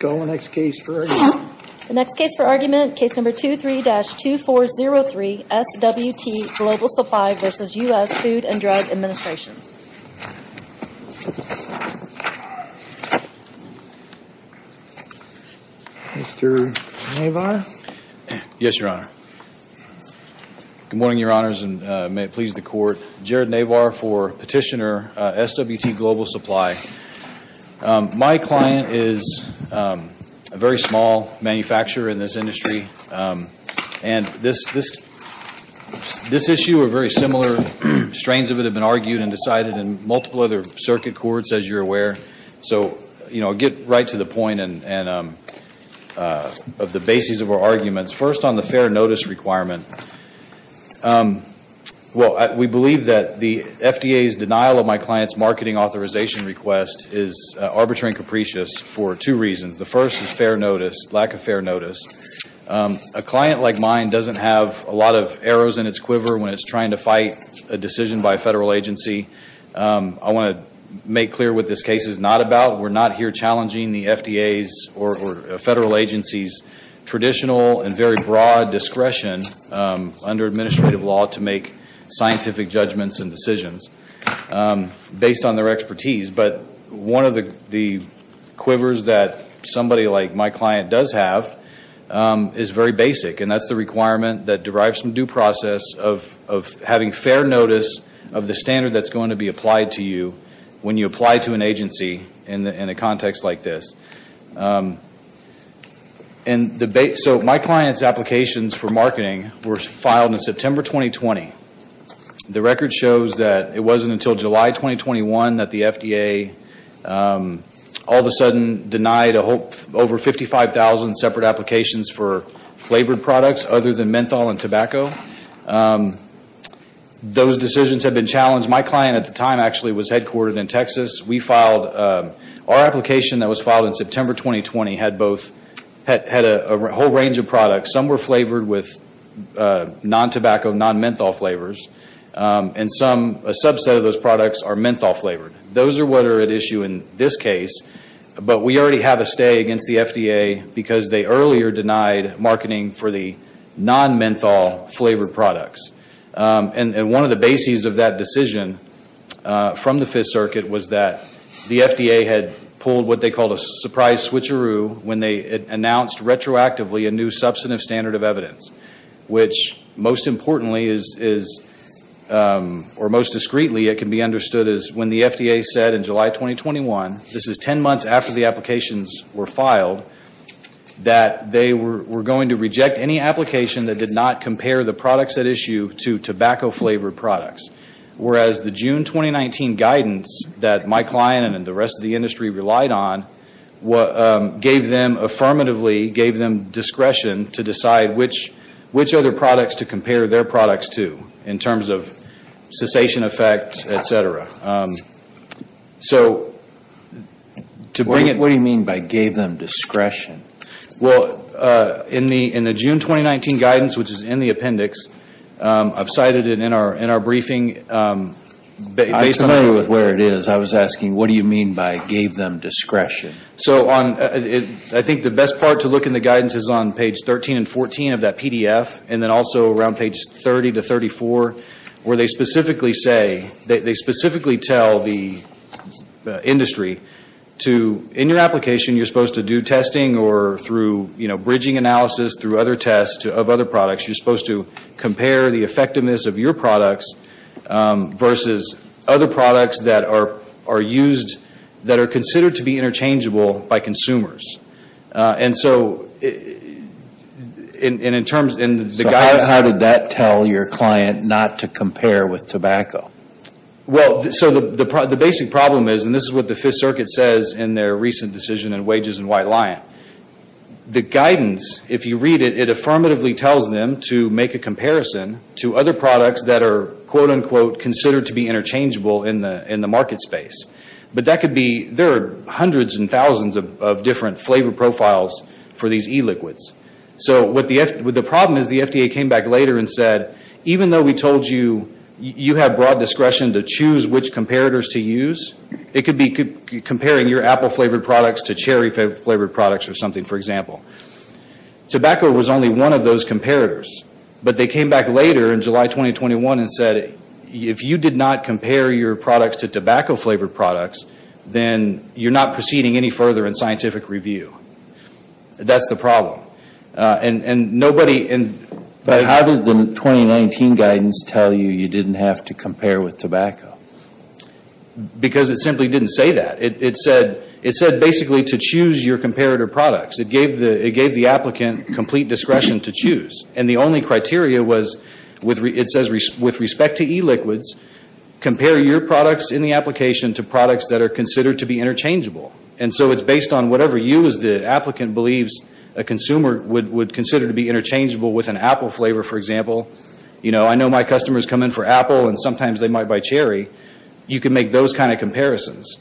The next case for argument, Case No. 23-2403, SWT Global Supply v. U.S. Food & Drug Administration. Mr. Navar? Yes, Your Honor. Good morning, Your Honors, and may it please the Court. Jared Navar for Petitioner, SWT Global Supply. My client is a very small manufacturer in this industry. And this issue or very similar strains of it have been argued and decided in multiple other circuit courts, as you're aware. So, you know, I'll get right to the point of the basis of our arguments. First, on the fair notice requirement. Well, we believe that the FDA's denial of my client's marketing authorization request is arbitrary and capricious for two reasons. The first is fair notice, lack of fair notice. A client like mine doesn't have a lot of arrows in its quiver when it's trying to fight a decision by a federal agency. I want to make clear what this case is not about. We're not here challenging the FDA's or federal agency's traditional and very broad discretion under administrative law to make scientific judgments and decisions based on their expertise. But one of the quivers that somebody like my client does have is very basic, and that's the requirement that derives from due process of having fair notice of the standard that's going to be applied to you when you apply to an agency in a context like this. So my client's applications for marketing were filed in September 2020. The record shows that it wasn't until July 2021 that the FDA all of a sudden denied over 55,000 separate applications for flavored products other than menthol and tobacco. Those decisions have been challenged. My client at the time actually was headquartered in Texas. Our application that was filed in September 2020 had a whole range of products. Some were flavored with non-tobacco, non-menthol flavors, and a subset of those products are menthol flavored. Those are what are at issue in this case, but we already have a stay against the FDA because they earlier denied marketing for the non-menthol flavored products. One of the bases of that decision from the Fifth Circuit was that the FDA had pulled what they called a surprise switcheroo when they announced retroactively a new substantive standard of evidence, which most importantly or most discreetly it can be understood as when the FDA said in July 2021, this is 10 months after the applications were filed, that they were going to reject any application that did not compare the products at issue to tobacco flavored products. Whereas the June 2019 guidance that my client and the rest of the industry relied on gave them affirmatively, gave them discretion to decide which other products to compare their products to in terms of cessation effect, etc. What do you mean by gave them discretion? In the June 2019 guidance, which is in the appendix, I've cited it in our briefing. I'm familiar with where it is. I was asking what do you mean by gave them discretion? I think the best part to look in the guidance is on page 13 and 14 of that PDF, and then also around page 30 to 34 where they specifically say, they specifically tell the industry to, in your application you're supposed to do testing or through bridging analysis through other tests of other products. You're supposed to compare the effectiveness of your products versus other products that are used, that are considered to be interchangeable by consumers. How did that tell your client not to compare with tobacco? The basic problem is, and this is what the Fifth Circuit says in their recent decision in Wages and White Lion, the guidance, if you read it, it affirmatively tells them to make a comparison to other products that are considered to be interchangeable in the market space. There are hundreds and thousands of different flavor profiles for these e-liquids. The problem is the FDA came back later and said, even though we told you you have broad discretion to choose which comparators to use, it could be comparing your apple-flavored products to cherry-flavored products or something, for example. Tobacco was only one of those comparators, but they came back later in July 2021 and said, if you did not compare your products to tobacco-flavored products, then you're not proceeding any further in scientific review. That's the problem. How did the 2019 guidance tell you you didn't have to compare with tobacco? Because it simply didn't say that. It said basically to choose your comparator products. It gave the applicant complete discretion to choose. And the only criteria was, it says, with respect to e-liquids, compare your products in the application to products that are considered to be interchangeable. And so it's based on whatever you, as the applicant, believes a consumer would consider to be interchangeable with an apple flavor, for example. I know my customers come in for apple, and sometimes they might buy cherry. You can make those kind of comparisons.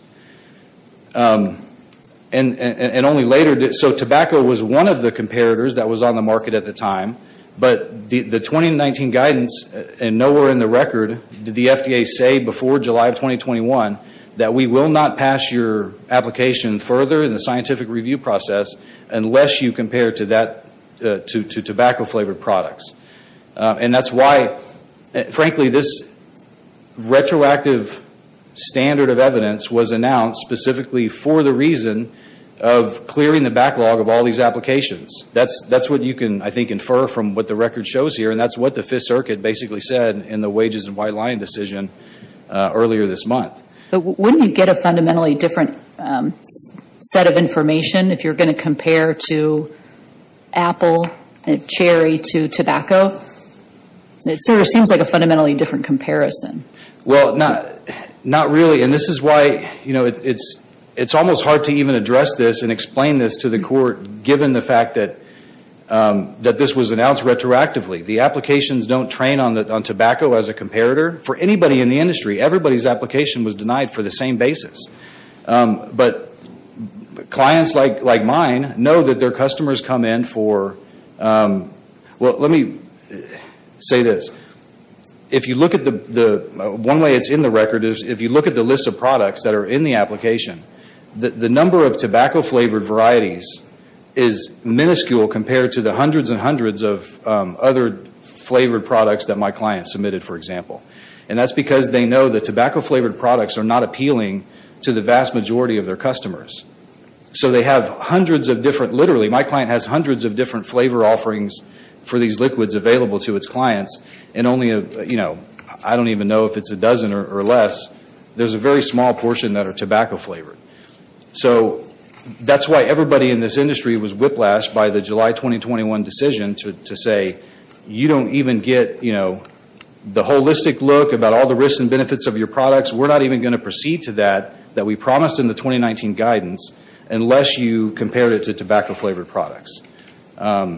Tobacco was one of the comparators that was on the market at the time, but the 2019 guidance and nowhere in the record did the FDA say before July 2021 that we will not pass your application further in the scientific review process unless you compare to tobacco-flavored products. And that's why, frankly, this retroactive standard of evidence was announced specifically for the reason of clearing the backlog of all these applications. That's what you can, I think, infer from what the record shows here, and that's what the Fifth Circuit basically said in the wages and white line decision earlier this month. But wouldn't you get a fundamentally different set of information if you're going to compare to apple and cherry to tobacco? It sort of seems like a fundamentally different comparison. Well, not really, and this is why it's almost hard to even address this and explain this to the court given the fact that this was announced retroactively. The applications don't train on tobacco as a comparator. For anybody in the industry, everybody's application was denied for the same basis. But clients like mine know that their customers come in for—well, let me say this. One way it's in the record is if you look at the list of products that are in the application, the number of tobacco-flavored varieties is minuscule compared to the hundreds and hundreds of other flavored products that my client submitted, for example. And that's because they know that tobacco-flavored products are not appealing to the vast majority of their customers. So they have hundreds of different—literally, my client has hundreds of different flavor offerings for these liquids available to its clients, and only—I don't even know if it's a dozen or less. There's a very small portion that are tobacco-flavored. So that's why everybody in this industry was whiplashed by the July 2021 decision to say, you don't even get the holistic look about all the risks and benefits of your products. We're not even going to proceed to that that we promised in the 2019 guidance unless you compare it to tobacco-flavored products. And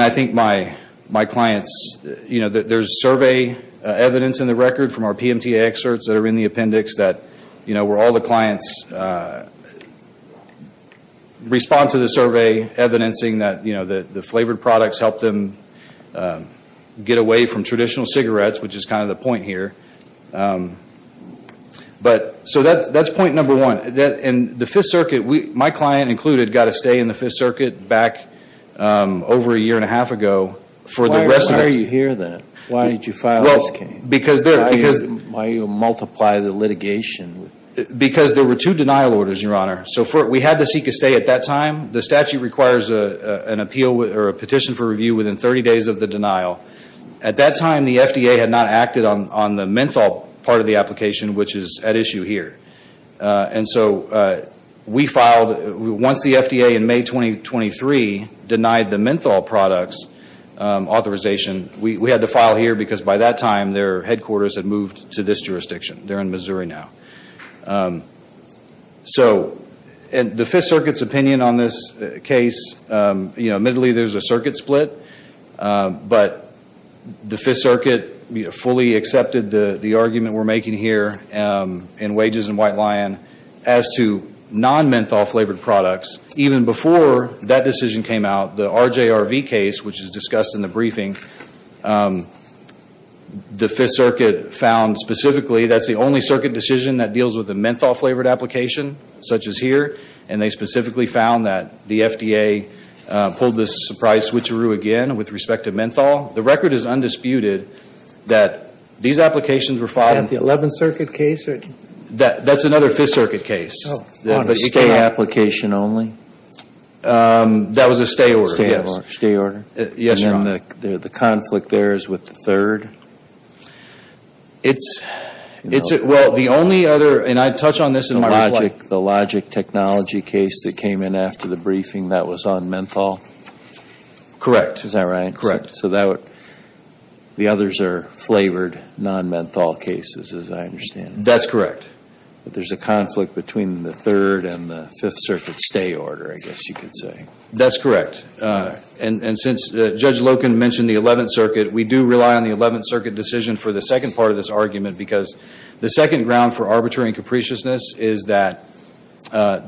I think my clients—there's survey evidence in the record from our PMTA experts that are in the appendix where all the clients respond to the survey, evidencing that the flavored products help them get away from traditional cigarettes, which is kind of the point here. So that's point number one. And the Fifth Circuit, my client included, got a stay in the Fifth Circuit back over a year and a half ago. Why are you here then? Why did you file this case? Why do you multiply the litigation? Because there were two denial orders, Your Honor. So we had to seek a stay at that time. The statute requires an appeal or a petition for review within 30 days of the denial. At that time, the FDA had not acted on the menthol part of the application, which is at issue here. And so we filed—once the FDA in May 2023 denied the menthol products authorization, we had to file here because by that time their headquarters had moved to this jurisdiction. They're in Missouri now. So the Fifth Circuit's opinion on this case, you know, admittedly there's a circuit split, but the Fifth Circuit fully accepted the argument we're making here in Wages and White Lion as to non-menthol-flavored products. Even before that decision came out, the RJRV case, which is discussed in the briefing, the Fifth Circuit found specifically that's the only circuit decision that deals with a menthol-flavored application, such as here. And they specifically found that the FDA pulled this surprise switcheroo again with respect to menthol. The record is undisputed that these applications were filed— Is that the Eleventh Circuit case? That's another Fifth Circuit case. A stay application only? That was a stay order, yes. Stay order? Yes, Your Honor. And then the conflict there is with the third? It's—well, the only other—and I touch on this in my reply— The Logic Technology case that came in after the briefing, that was on menthol? Correct. Is that right? Correct. So the others are flavored non-menthol cases, as I understand it. That's correct. But there's a conflict between the third and the Fifth Circuit stay order, I guess you could say. That's correct. And since Judge Loken mentioned the Eleventh Circuit, we do rely on the Eleventh Circuit decision for the second part of this argument because the second ground for arbitrary and capriciousness is that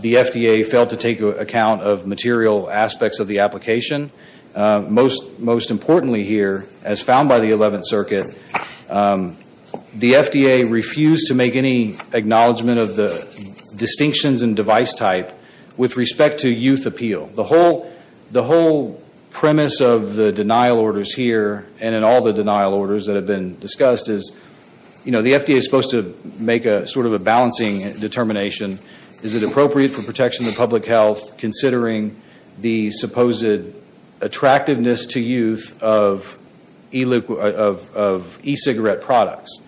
the FDA failed to take account of material aspects of the application. Most importantly here, as found by the Eleventh Circuit, the FDA refused to make any acknowledgment of the distinctions in device type with respect to youth appeal. The whole premise of the denial orders here, and in all the denial orders that have been discussed, is the FDA is supposed to make sort of a balancing determination. Is it appropriate for protection of public health, considering the supposed attractiveness to youth of e-cigarette products?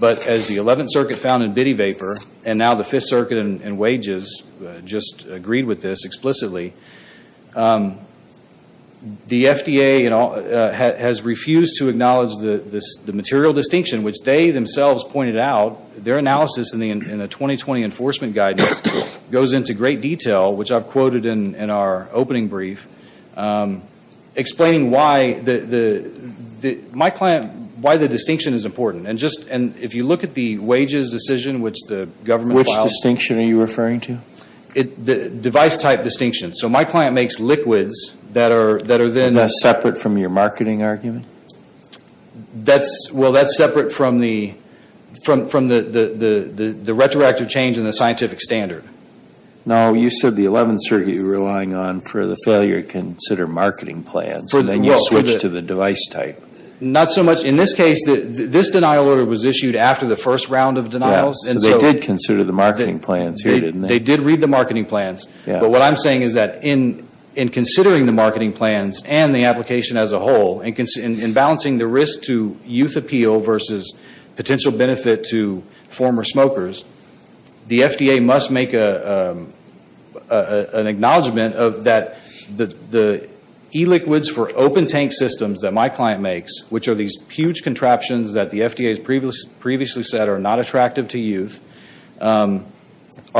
But as the Eleventh Circuit found in bitty vapor, and now the Fifth Circuit and wages just agreed with this explicitly, the FDA has refused to acknowledge the material distinction, which they themselves pointed out. Their analysis in the 2020 enforcement guidance goes into great detail, which I've quoted in our opening brief, explaining why the distinction is important. And if you look at the wages decision, which the government filed... Which distinction are you referring to? The device type distinction. So my client makes liquids that are then... Is that separate from your marketing argument? Well, that's separate from the retroactive change in the scientific standard. No, you said the Eleventh Circuit were relying on for the failure to consider marketing plans, and then you switched to the device type. Not so much. In this case, this denial order was issued after the first round of denials. So they did consider the marketing plans here, didn't they? They did read the marketing plans. But what I'm saying is that in considering the marketing plans and the application as a whole, and in balancing the risk to youth appeal versus potential benefit to former smokers, the FDA must make an acknowledgment that the e-liquids for open tank systems that my client makes, which are these huge contraptions that the FDA has previously said are not attractive to youth, are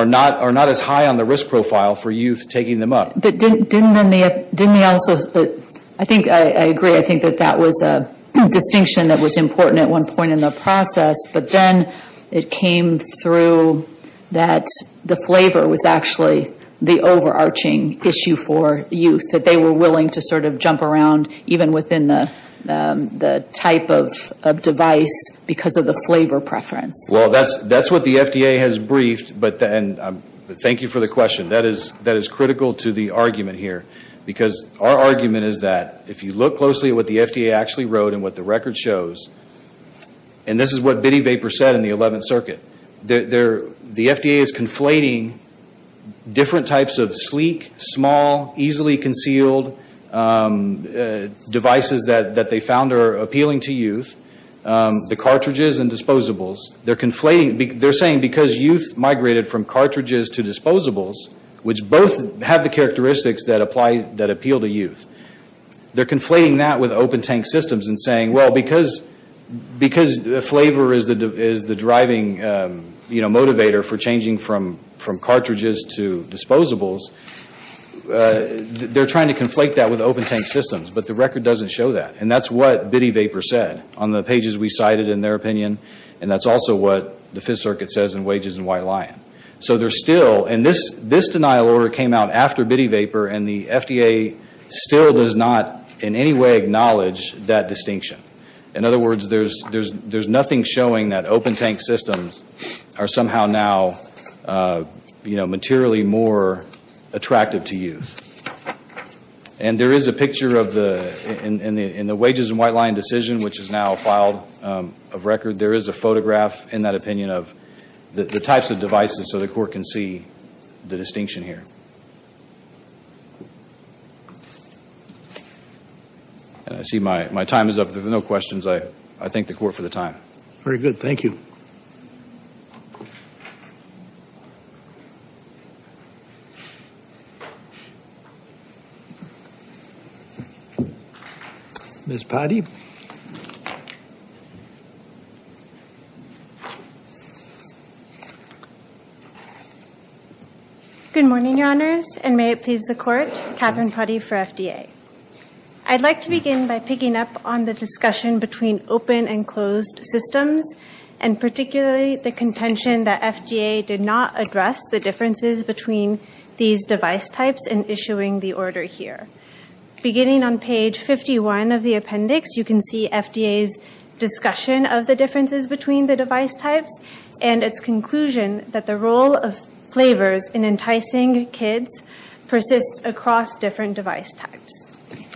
not as high on the risk profile for youth taking them up. But didn't they also... I agree. I think that that was a distinction that was important at one point in the process. But then it came through that the flavor was actually the overarching issue for youth, that they were willing to sort of jump around even within the type of device because of the flavor preference. Well, that's what the FDA has briefed. But thank you for the question. That is critical to the argument here. Because our argument is that if you look closely at what the FDA actually wrote and what the record shows, and this is what Biddy Vapor said in the 11th Circuit, the FDA is conflating different types of sleek, small, easily concealed devices that they found are appealing to youth, the cartridges and disposables. They're saying because youth migrated from cartridges to disposables, which both have the characteristics that appeal to youth, they're conflating that with open tank systems and saying, well, because flavor is the driving motivator for changing from cartridges to disposables, they're trying to conflate that with open tank systems. But the record doesn't show that. And that's what Biddy Vapor said on the pages we cited, in their opinion. And that's also what the Fifth Circuit says in Wages and White Lion. So there's still, and this denial order came out after Biddy Vapor, and the FDA still does not in any way acknowledge that distinction. In other words, there's nothing showing that open tank systems are somehow now materially more attractive to youth. And there is a picture of the, in the Wages and White Lion decision, which is now filed of record, there is a photograph, in that opinion, of the types of devices so the Court can see the distinction here. And I see my time is up. If there's no questions, I thank the Court for the time. Very good. Thank you. Ms. Potty. Good morning, Your Honors, and may it please the Court, Katherine Potty for FDA. I'd like to begin by picking up on the discussion between open and closed systems, and particularly the contention that FDA did not address the differences between these device types in issuing the order here. Beginning on page 51 of the appendix, you can see FDA's discussion of the differences between the device types and its conclusion that the role of flavors in enticing kids persists across different device types.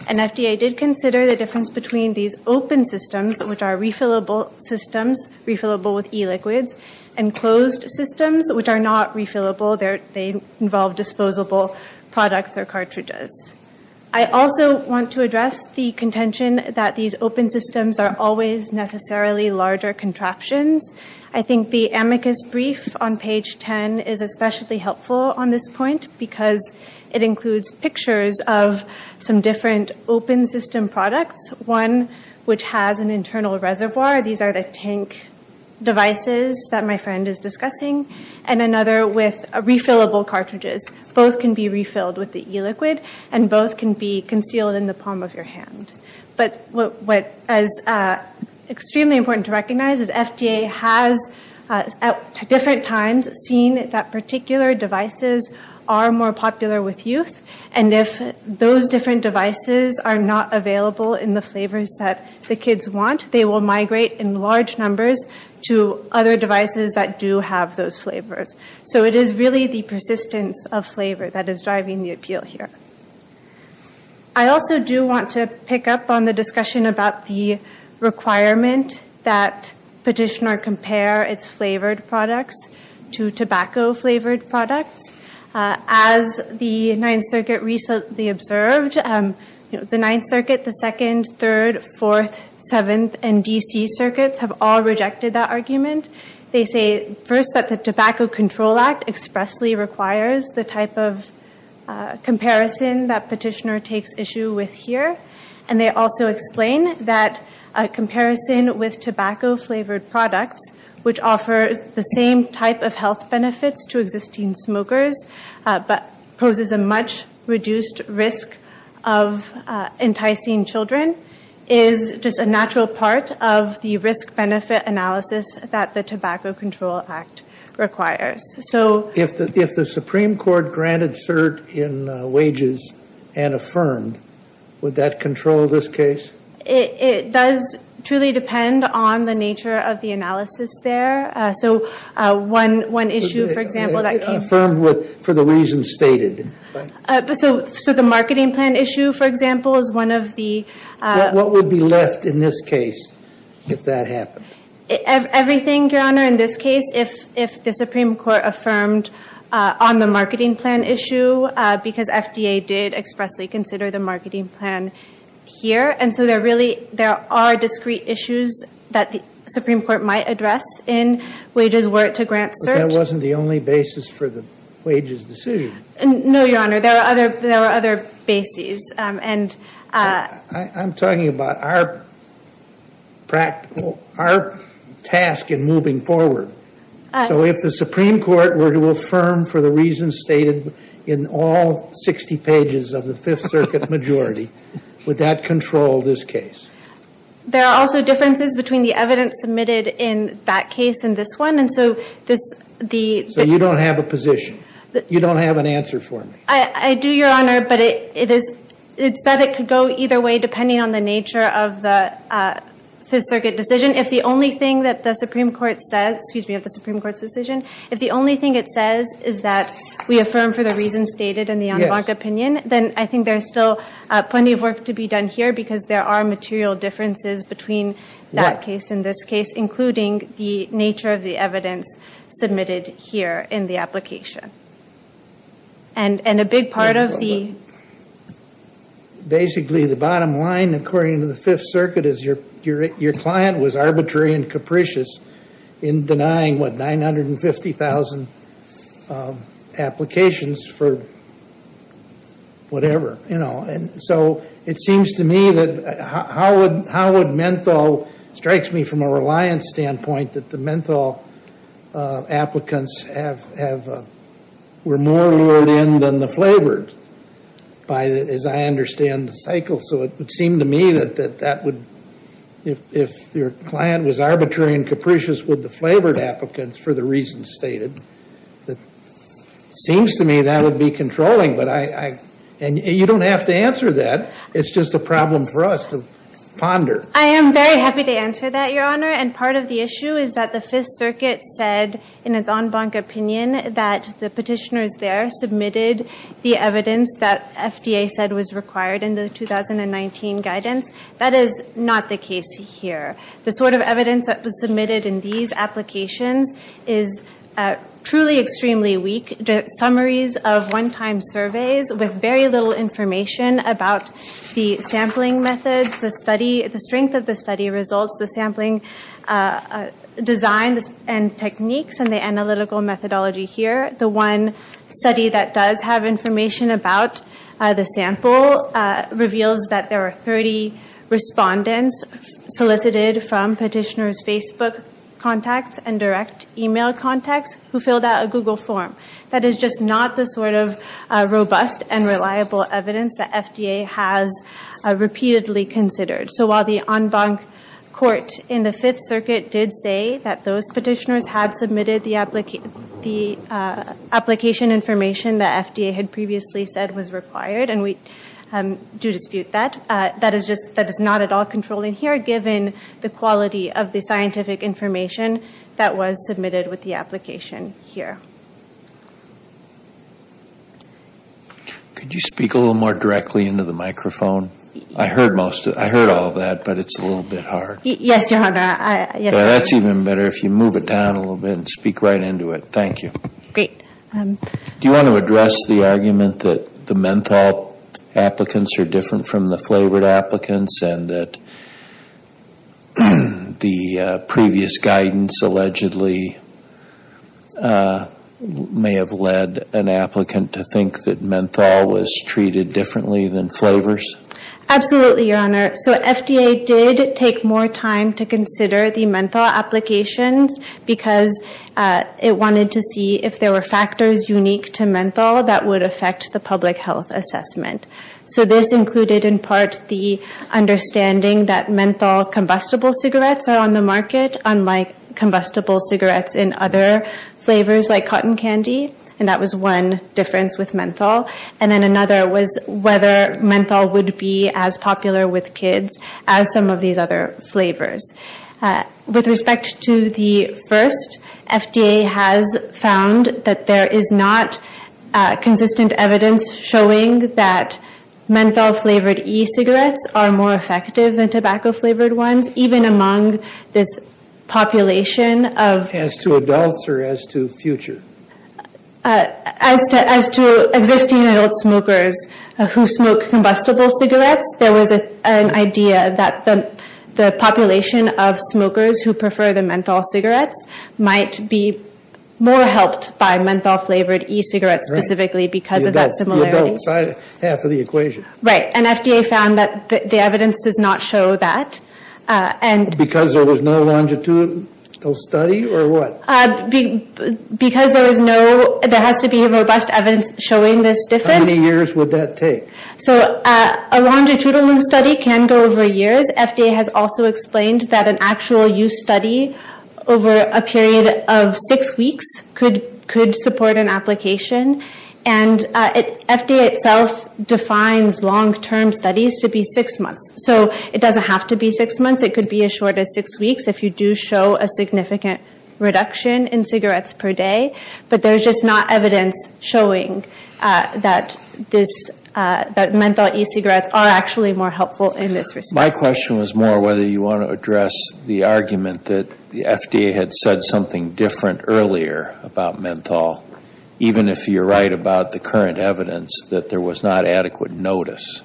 And FDA did consider the difference between these open systems, which are refillable systems, refillable with e-liquids, and closed systems, which are not refillable. They involve disposable products or cartridges. I also want to address the contention that these open systems are always necessarily larger contraptions. I think the amicus brief on page 10 is especially helpful on this point because it includes pictures of some different open system products, one which has an internal reservoir. These are the tank devices that my friend is discussing, and another with refillable cartridges. Both can be refilled with the e-liquid, and both can be concealed in the palm of your hand. But what is extremely important to recognize is FDA has, at different times, seen that particular devices are more popular with youth, and if those different devices are not available in the flavors that the kids want, they will migrate in large numbers to other devices that do have those flavors. So it is really the persistence of flavor that is driving the appeal here. I also do want to pick up on the discussion about the requirement that Petitioner compare its flavored products to tobacco-flavored products. As the Ninth Circuit recently observed, the Ninth Circuit, the Second, Third, Fourth, Seventh, and D.C. circuits have all rejected that argument. They say, first, that the Tobacco Control Act expressly requires the type of comparison that Petitioner takes issue with here, and they also explain that a comparison with tobacco-flavored products, which offers the same type of health benefits to existing smokers, but poses a much reduced risk of enticing children, is just a natural part of the risk-benefit analysis that the Tobacco Control Act requires. So if the Supreme Court granted cert in wages and affirmed, would that control this case? It does truly depend on the nature of the analysis there. So one issue, for example, that came up. Affirmed for the reasons stated. So the marketing plan issue, for example, is one of the- What would be left in this case if that happened? Everything, Your Honor, in this case. If the Supreme Court affirmed on the marketing plan issue, because FDA did expressly consider the marketing plan here, and so there are discrete issues that the Supreme Court might address in wages were it to grant cert. But that wasn't the only basis for the wages decision. No, Your Honor, there were other bases. I'm talking about our task in moving forward. So if the Supreme Court were to affirm for the reasons stated in all 60 pages of the Fifth Circuit majority, would that control this case? There are also differences between the evidence submitted in that case and this one. So you don't have a position? You don't have an answer for me? I do, Your Honor, but it's that it could go either way depending on the nature of the Fifth Circuit decision. If the only thing that the Supreme Court says, excuse me, of the Supreme Court's decision, if the only thing it says is that we affirm for the reasons stated in the en banc opinion, then I think there's still plenty of work to be done here, because there are material differences between that case and this case, including the nature of the evidence submitted here in the application. And a big part of the... Basically, the bottom line, according to the Fifth Circuit, is your client was arbitrary and capricious in denying, what, 950,000 applications for whatever. So it seems to me that how would menthol... It strikes me from a reliance standpoint that the menthol applicants were more lured in than the flavored, as I understand the cycle. So it would seem to me that that would... If your client was arbitrary and capricious with the flavored applicants for the reasons stated, it seems to me that would be controlling. And you don't have to answer that. It's just a problem for us to ponder. I am very happy to answer that, Your Honor. And part of the issue is that the Fifth Circuit said in its en banc opinion that the petitioners there submitted the evidence that FDA said was required in the 2019 guidance. That is not the case here. The sort of evidence that was submitted in these applications is truly extremely weak. Summaries of one-time surveys with very little information about the sampling methods, the strength of the study results, the sampling designs and techniques, and the analytical methodology here. The one study that does have information about the sample reveals that there are 30 respondents solicited from petitioners' Facebook contacts and direct email contacts who filled out a Google form. That is just not the sort of robust and reliable evidence that FDA has repeatedly considered. So while the en banc court in the Fifth Circuit did say that those petitioners had submitted the application information that FDA had previously said was required, and we do dispute that, that is not at all controlled in here given the quality of the scientific information that was submitted with the application here. Could you speak a little more directly into the microphone? I heard all of that, but it's a little bit hard. Yes, Your Honor. That's even better if you move it down a little bit and speak right into it. Thank you. Great. Do you want to address the argument that the menthol applicants are different from the flavored applicants and that the previous guidance allegedly may have led an applicant to think that menthol was treated differently than flavors? Absolutely, Your Honor. So FDA did take more time to consider the menthol applications because it wanted to see if there were factors unique to menthol that would affect the public health assessment. So this included in part the understanding that menthol combustible cigarettes are on the market, unlike combustible cigarettes in other flavors like cotton candy, and that was one difference with menthol. And then another was whether menthol would be as popular with kids as some of these other flavors. With respect to the first, FDA has found that there is not consistent evidence showing that menthol-flavored e-cigarettes are more effective than tobacco-flavored ones, even among this population of... As to adults or as to future? As to existing adult smokers who smoke combustible cigarettes, there was an idea that the population of smokers who prefer the menthol cigarettes might be more helped by menthol-flavored e-cigarettes specifically because of that similarity. You don't. Half of the equation. Right. And FDA found that the evidence does not show that. Because there was no longitudinal study or what? Because there has to be robust evidence showing this difference. How many years would that take? So a longitudinal study can go over years. FDA has also explained that an actual use study over a period of six weeks could support an application. And FDA itself defines long-term studies to be six months, so it doesn't have to be six months. It could be as short as six weeks if you do show a significant reduction in cigarettes per day. But there's just not evidence showing that menthol e-cigarettes are actually more helpful in this respect. My question was more whether you want to address the argument that the FDA had said something different earlier about menthol, even if you're right about the current evidence that there was not adequate notice.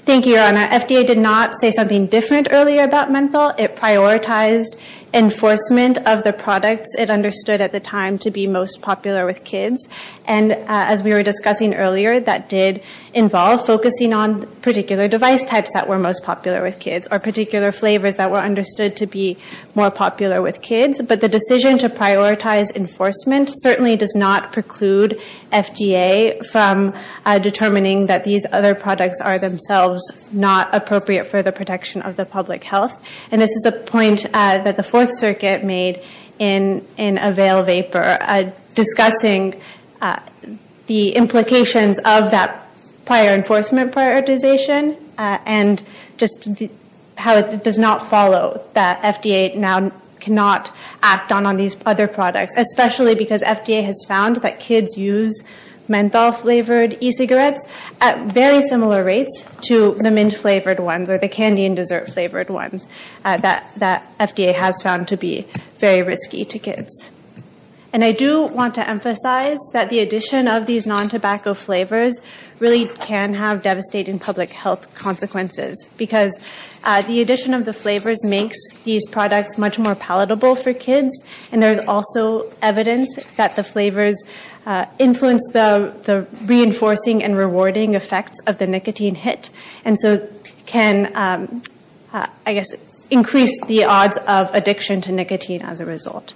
Thank you, Your Honor. FDA did not say something different earlier about menthol. It prioritized enforcement of the products it understood at the time to be most popular with kids. And as we were discussing earlier, that did involve focusing on particular device types that were most popular with kids or particular flavors that were understood to be more popular with kids. But the decision to prioritize enforcement certainly does not preclude FDA from determining that these other products are themselves not appropriate for the protection of the public health. And this is a point that the Fourth Circuit made in a veil of paper discussing the implications of that prior enforcement prioritization and just how it does not follow that FDA now cannot act on these other products, especially because FDA has found that kids use menthol-flavored e-cigarettes at very similar rates to the mint-flavored ones or the candy and dessert-flavored ones that FDA has found to be very risky to kids. And I do want to emphasize that the addition of these non-tobacco flavors really can have devastating public health consequences because the addition of the flavors makes these products much more palatable for kids. And there's also evidence that the flavors influence the reinforcing and rewarding effects of the nicotine hit and so can, I guess, increase the odds of addiction to nicotine as a result.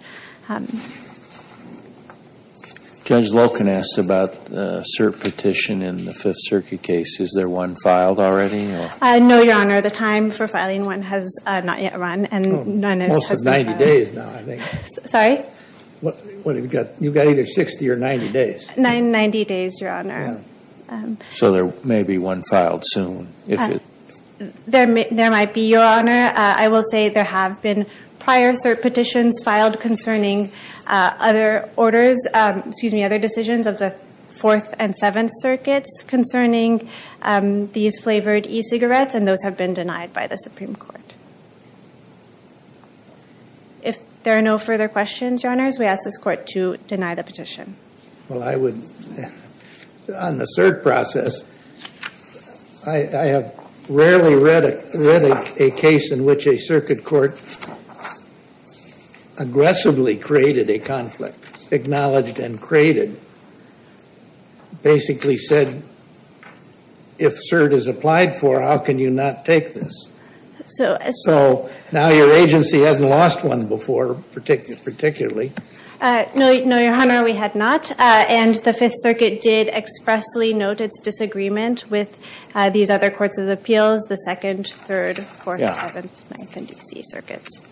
Judge Loken asked about a cert petition in the Fifth Circuit case. Is there one filed already? No, Your Honor. The time for filing one has not yet run. Most of 90 days now, I think. Sorry? You've got either 60 or 90 days. 90 days, Your Honor. So there may be one filed soon. There might be, Your Honor. I will say there have been prior cert petitions filed concerning other decisions of the Fourth and Seventh Circuits concerning these flavored e-cigarettes, and those have been denied by the Supreme Court. If there are no further questions, Your Honors, we ask this Court to deny the petition. Well, I would, on the cert process, I have rarely read a case in which a circuit court aggressively created a conflict, acknowledged and created, basically said, if cert is applied for, how can you not take this? So now your agency hasn't lost one before, particularly. No, Your Honor, we had not. And the Fifth Circuit did expressly note its disagreement with these other Courts of Appeals, the Second, Third, Fourth, Seventh, Ninth, and D.C. Circuits.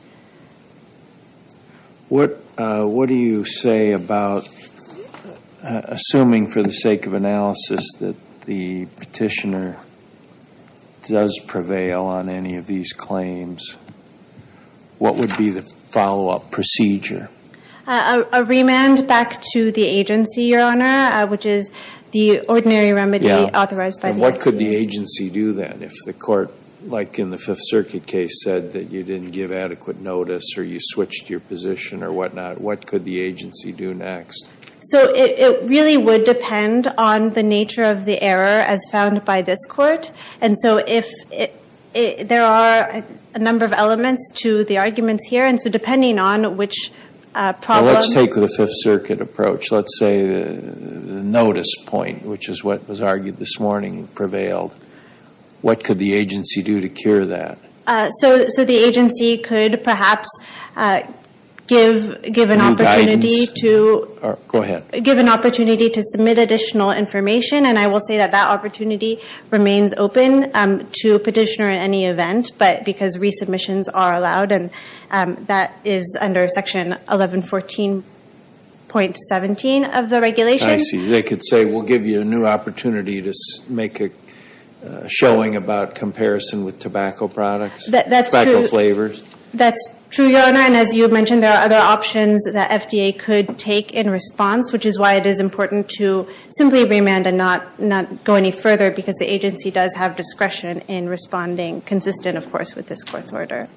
What do you say about, assuming for the sake of analysis that the petitioner does prevail on any of these claims, what would be the follow-up procedure? A remand back to the agency, Your Honor, which is the ordinary remedy authorized by the agency. And what could the agency do then if the Court, like in the Fifth Circuit case, said that you didn't give adequate notice or you switched your position or whatnot? What could the agency do next? So it really would depend on the nature of the error as found by this Court. And so there are a number of elements to the arguments here. And so depending on which problem- Well, let's take the Fifth Circuit approach. Let's say the notice point, which is what was argued this morning, prevailed. What could the agency do to cure that? So the agency could perhaps give an opportunity to- New guidance? Go ahead. Give an opportunity to submit additional information. And I will say that that opportunity remains open to a petitioner in any event, because resubmissions are allowed, and that is under Section 1114.17 of the regulation. I see. They could say, we'll give you a new opportunity to make a showing about comparison with tobacco products, tobacco flavors. That's true, Your Honor. And as you mentioned, there are other options that FDA could take in response, which is why it is important to simply remand and not go any further, because the agency does have discretion in responding, consistent, of course, with this Court's order.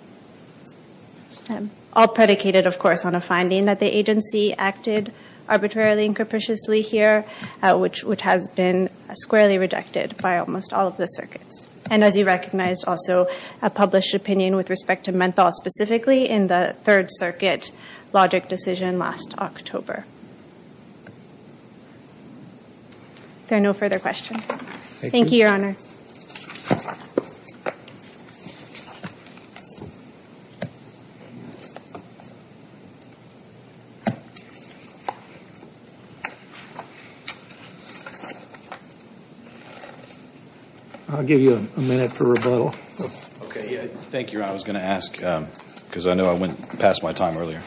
All predicated, of course, on a finding that the agency acted arbitrarily and capriciously here, which has been squarely rejected by almost all of the circuits. And as you recognized, also, a published opinion with respect to menthol, specifically in the Third Circuit logic decision last October. Are there no further questions? Thank you, Your Honor. I'll give you a minute for rebuttal. Okay. Thank you, Your Honor. I was going to ask, because I know I went past my time earlier.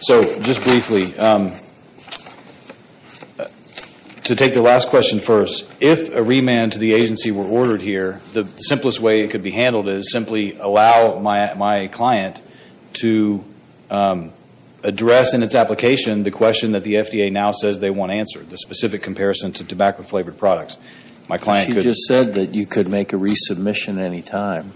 So just briefly, to take the last question first, if a remand to the agency were to occur, the simplest way it could be handled is simply allow my client to address in its application the question that the FDA now says they want answered, the specific comparison to tobacco-flavored products. She just said that you could make a resubmission at any time.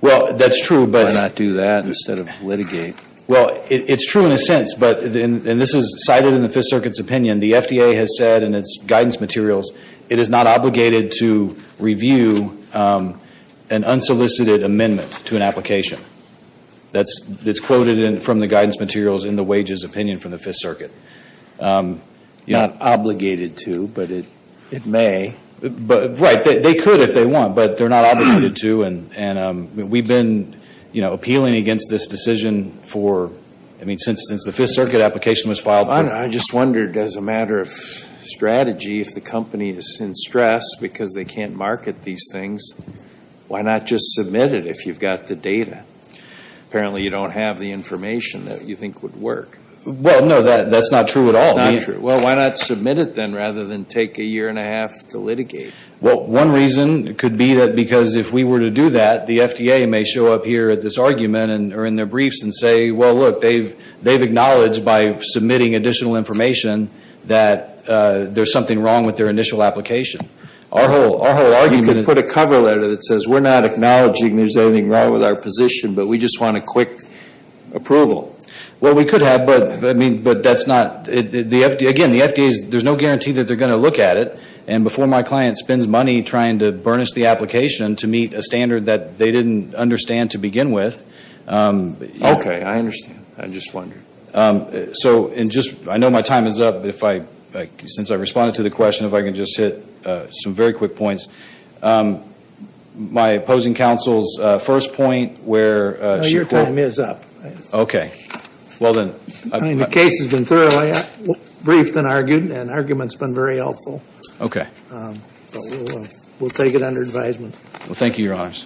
Well, that's true. Why not do that instead of litigate? Well, it's true in a sense, and this is cited in the Fifth Circuit's opinion. The FDA has said in its guidance materials it is not obligated to review an unsolicited amendment to an application. That's quoted from the guidance materials in the wages opinion from the Fifth Circuit. Not obligated to, but it may. Right. They could if they want, but they're not obligated to. We've been appealing against this decision for, I mean, since the Fifth Circuit application was filed. Bob, I just wondered, as a matter of strategy, if the company is in stress because they can't market these things, why not just submit it if you've got the data? Apparently you don't have the information that you think would work. Well, no, that's not true at all. It's not true. Well, why not submit it then rather than take a year and a half to litigate? Well, one reason could be that because if we were to do that, the FDA may show up here at this argument or in their briefs and say, well, look, they've acknowledged by submitting additional information that there's something wrong with their initial application. You could put a cover letter that says, we're not acknowledging there's anything wrong with our position, but we just want a quick approval. Well, we could have, but that's not the FDA. Again, the FDA, there's no guarantee that they're going to look at it. And before my client spends money trying to burnish the application to meet a standard that they didn't understand to begin with. Okay, I understand. I'm just wondering. So I know my time is up, but since I responded to the question, if I can just hit some very quick points. My opposing counsel's first point where she put... No, your time is up. Okay. Well, then... The case has been thoroughly briefed and argued, and argument's been very helpful. Okay. We'll take it under advisement. Well, thank you, Your Honors.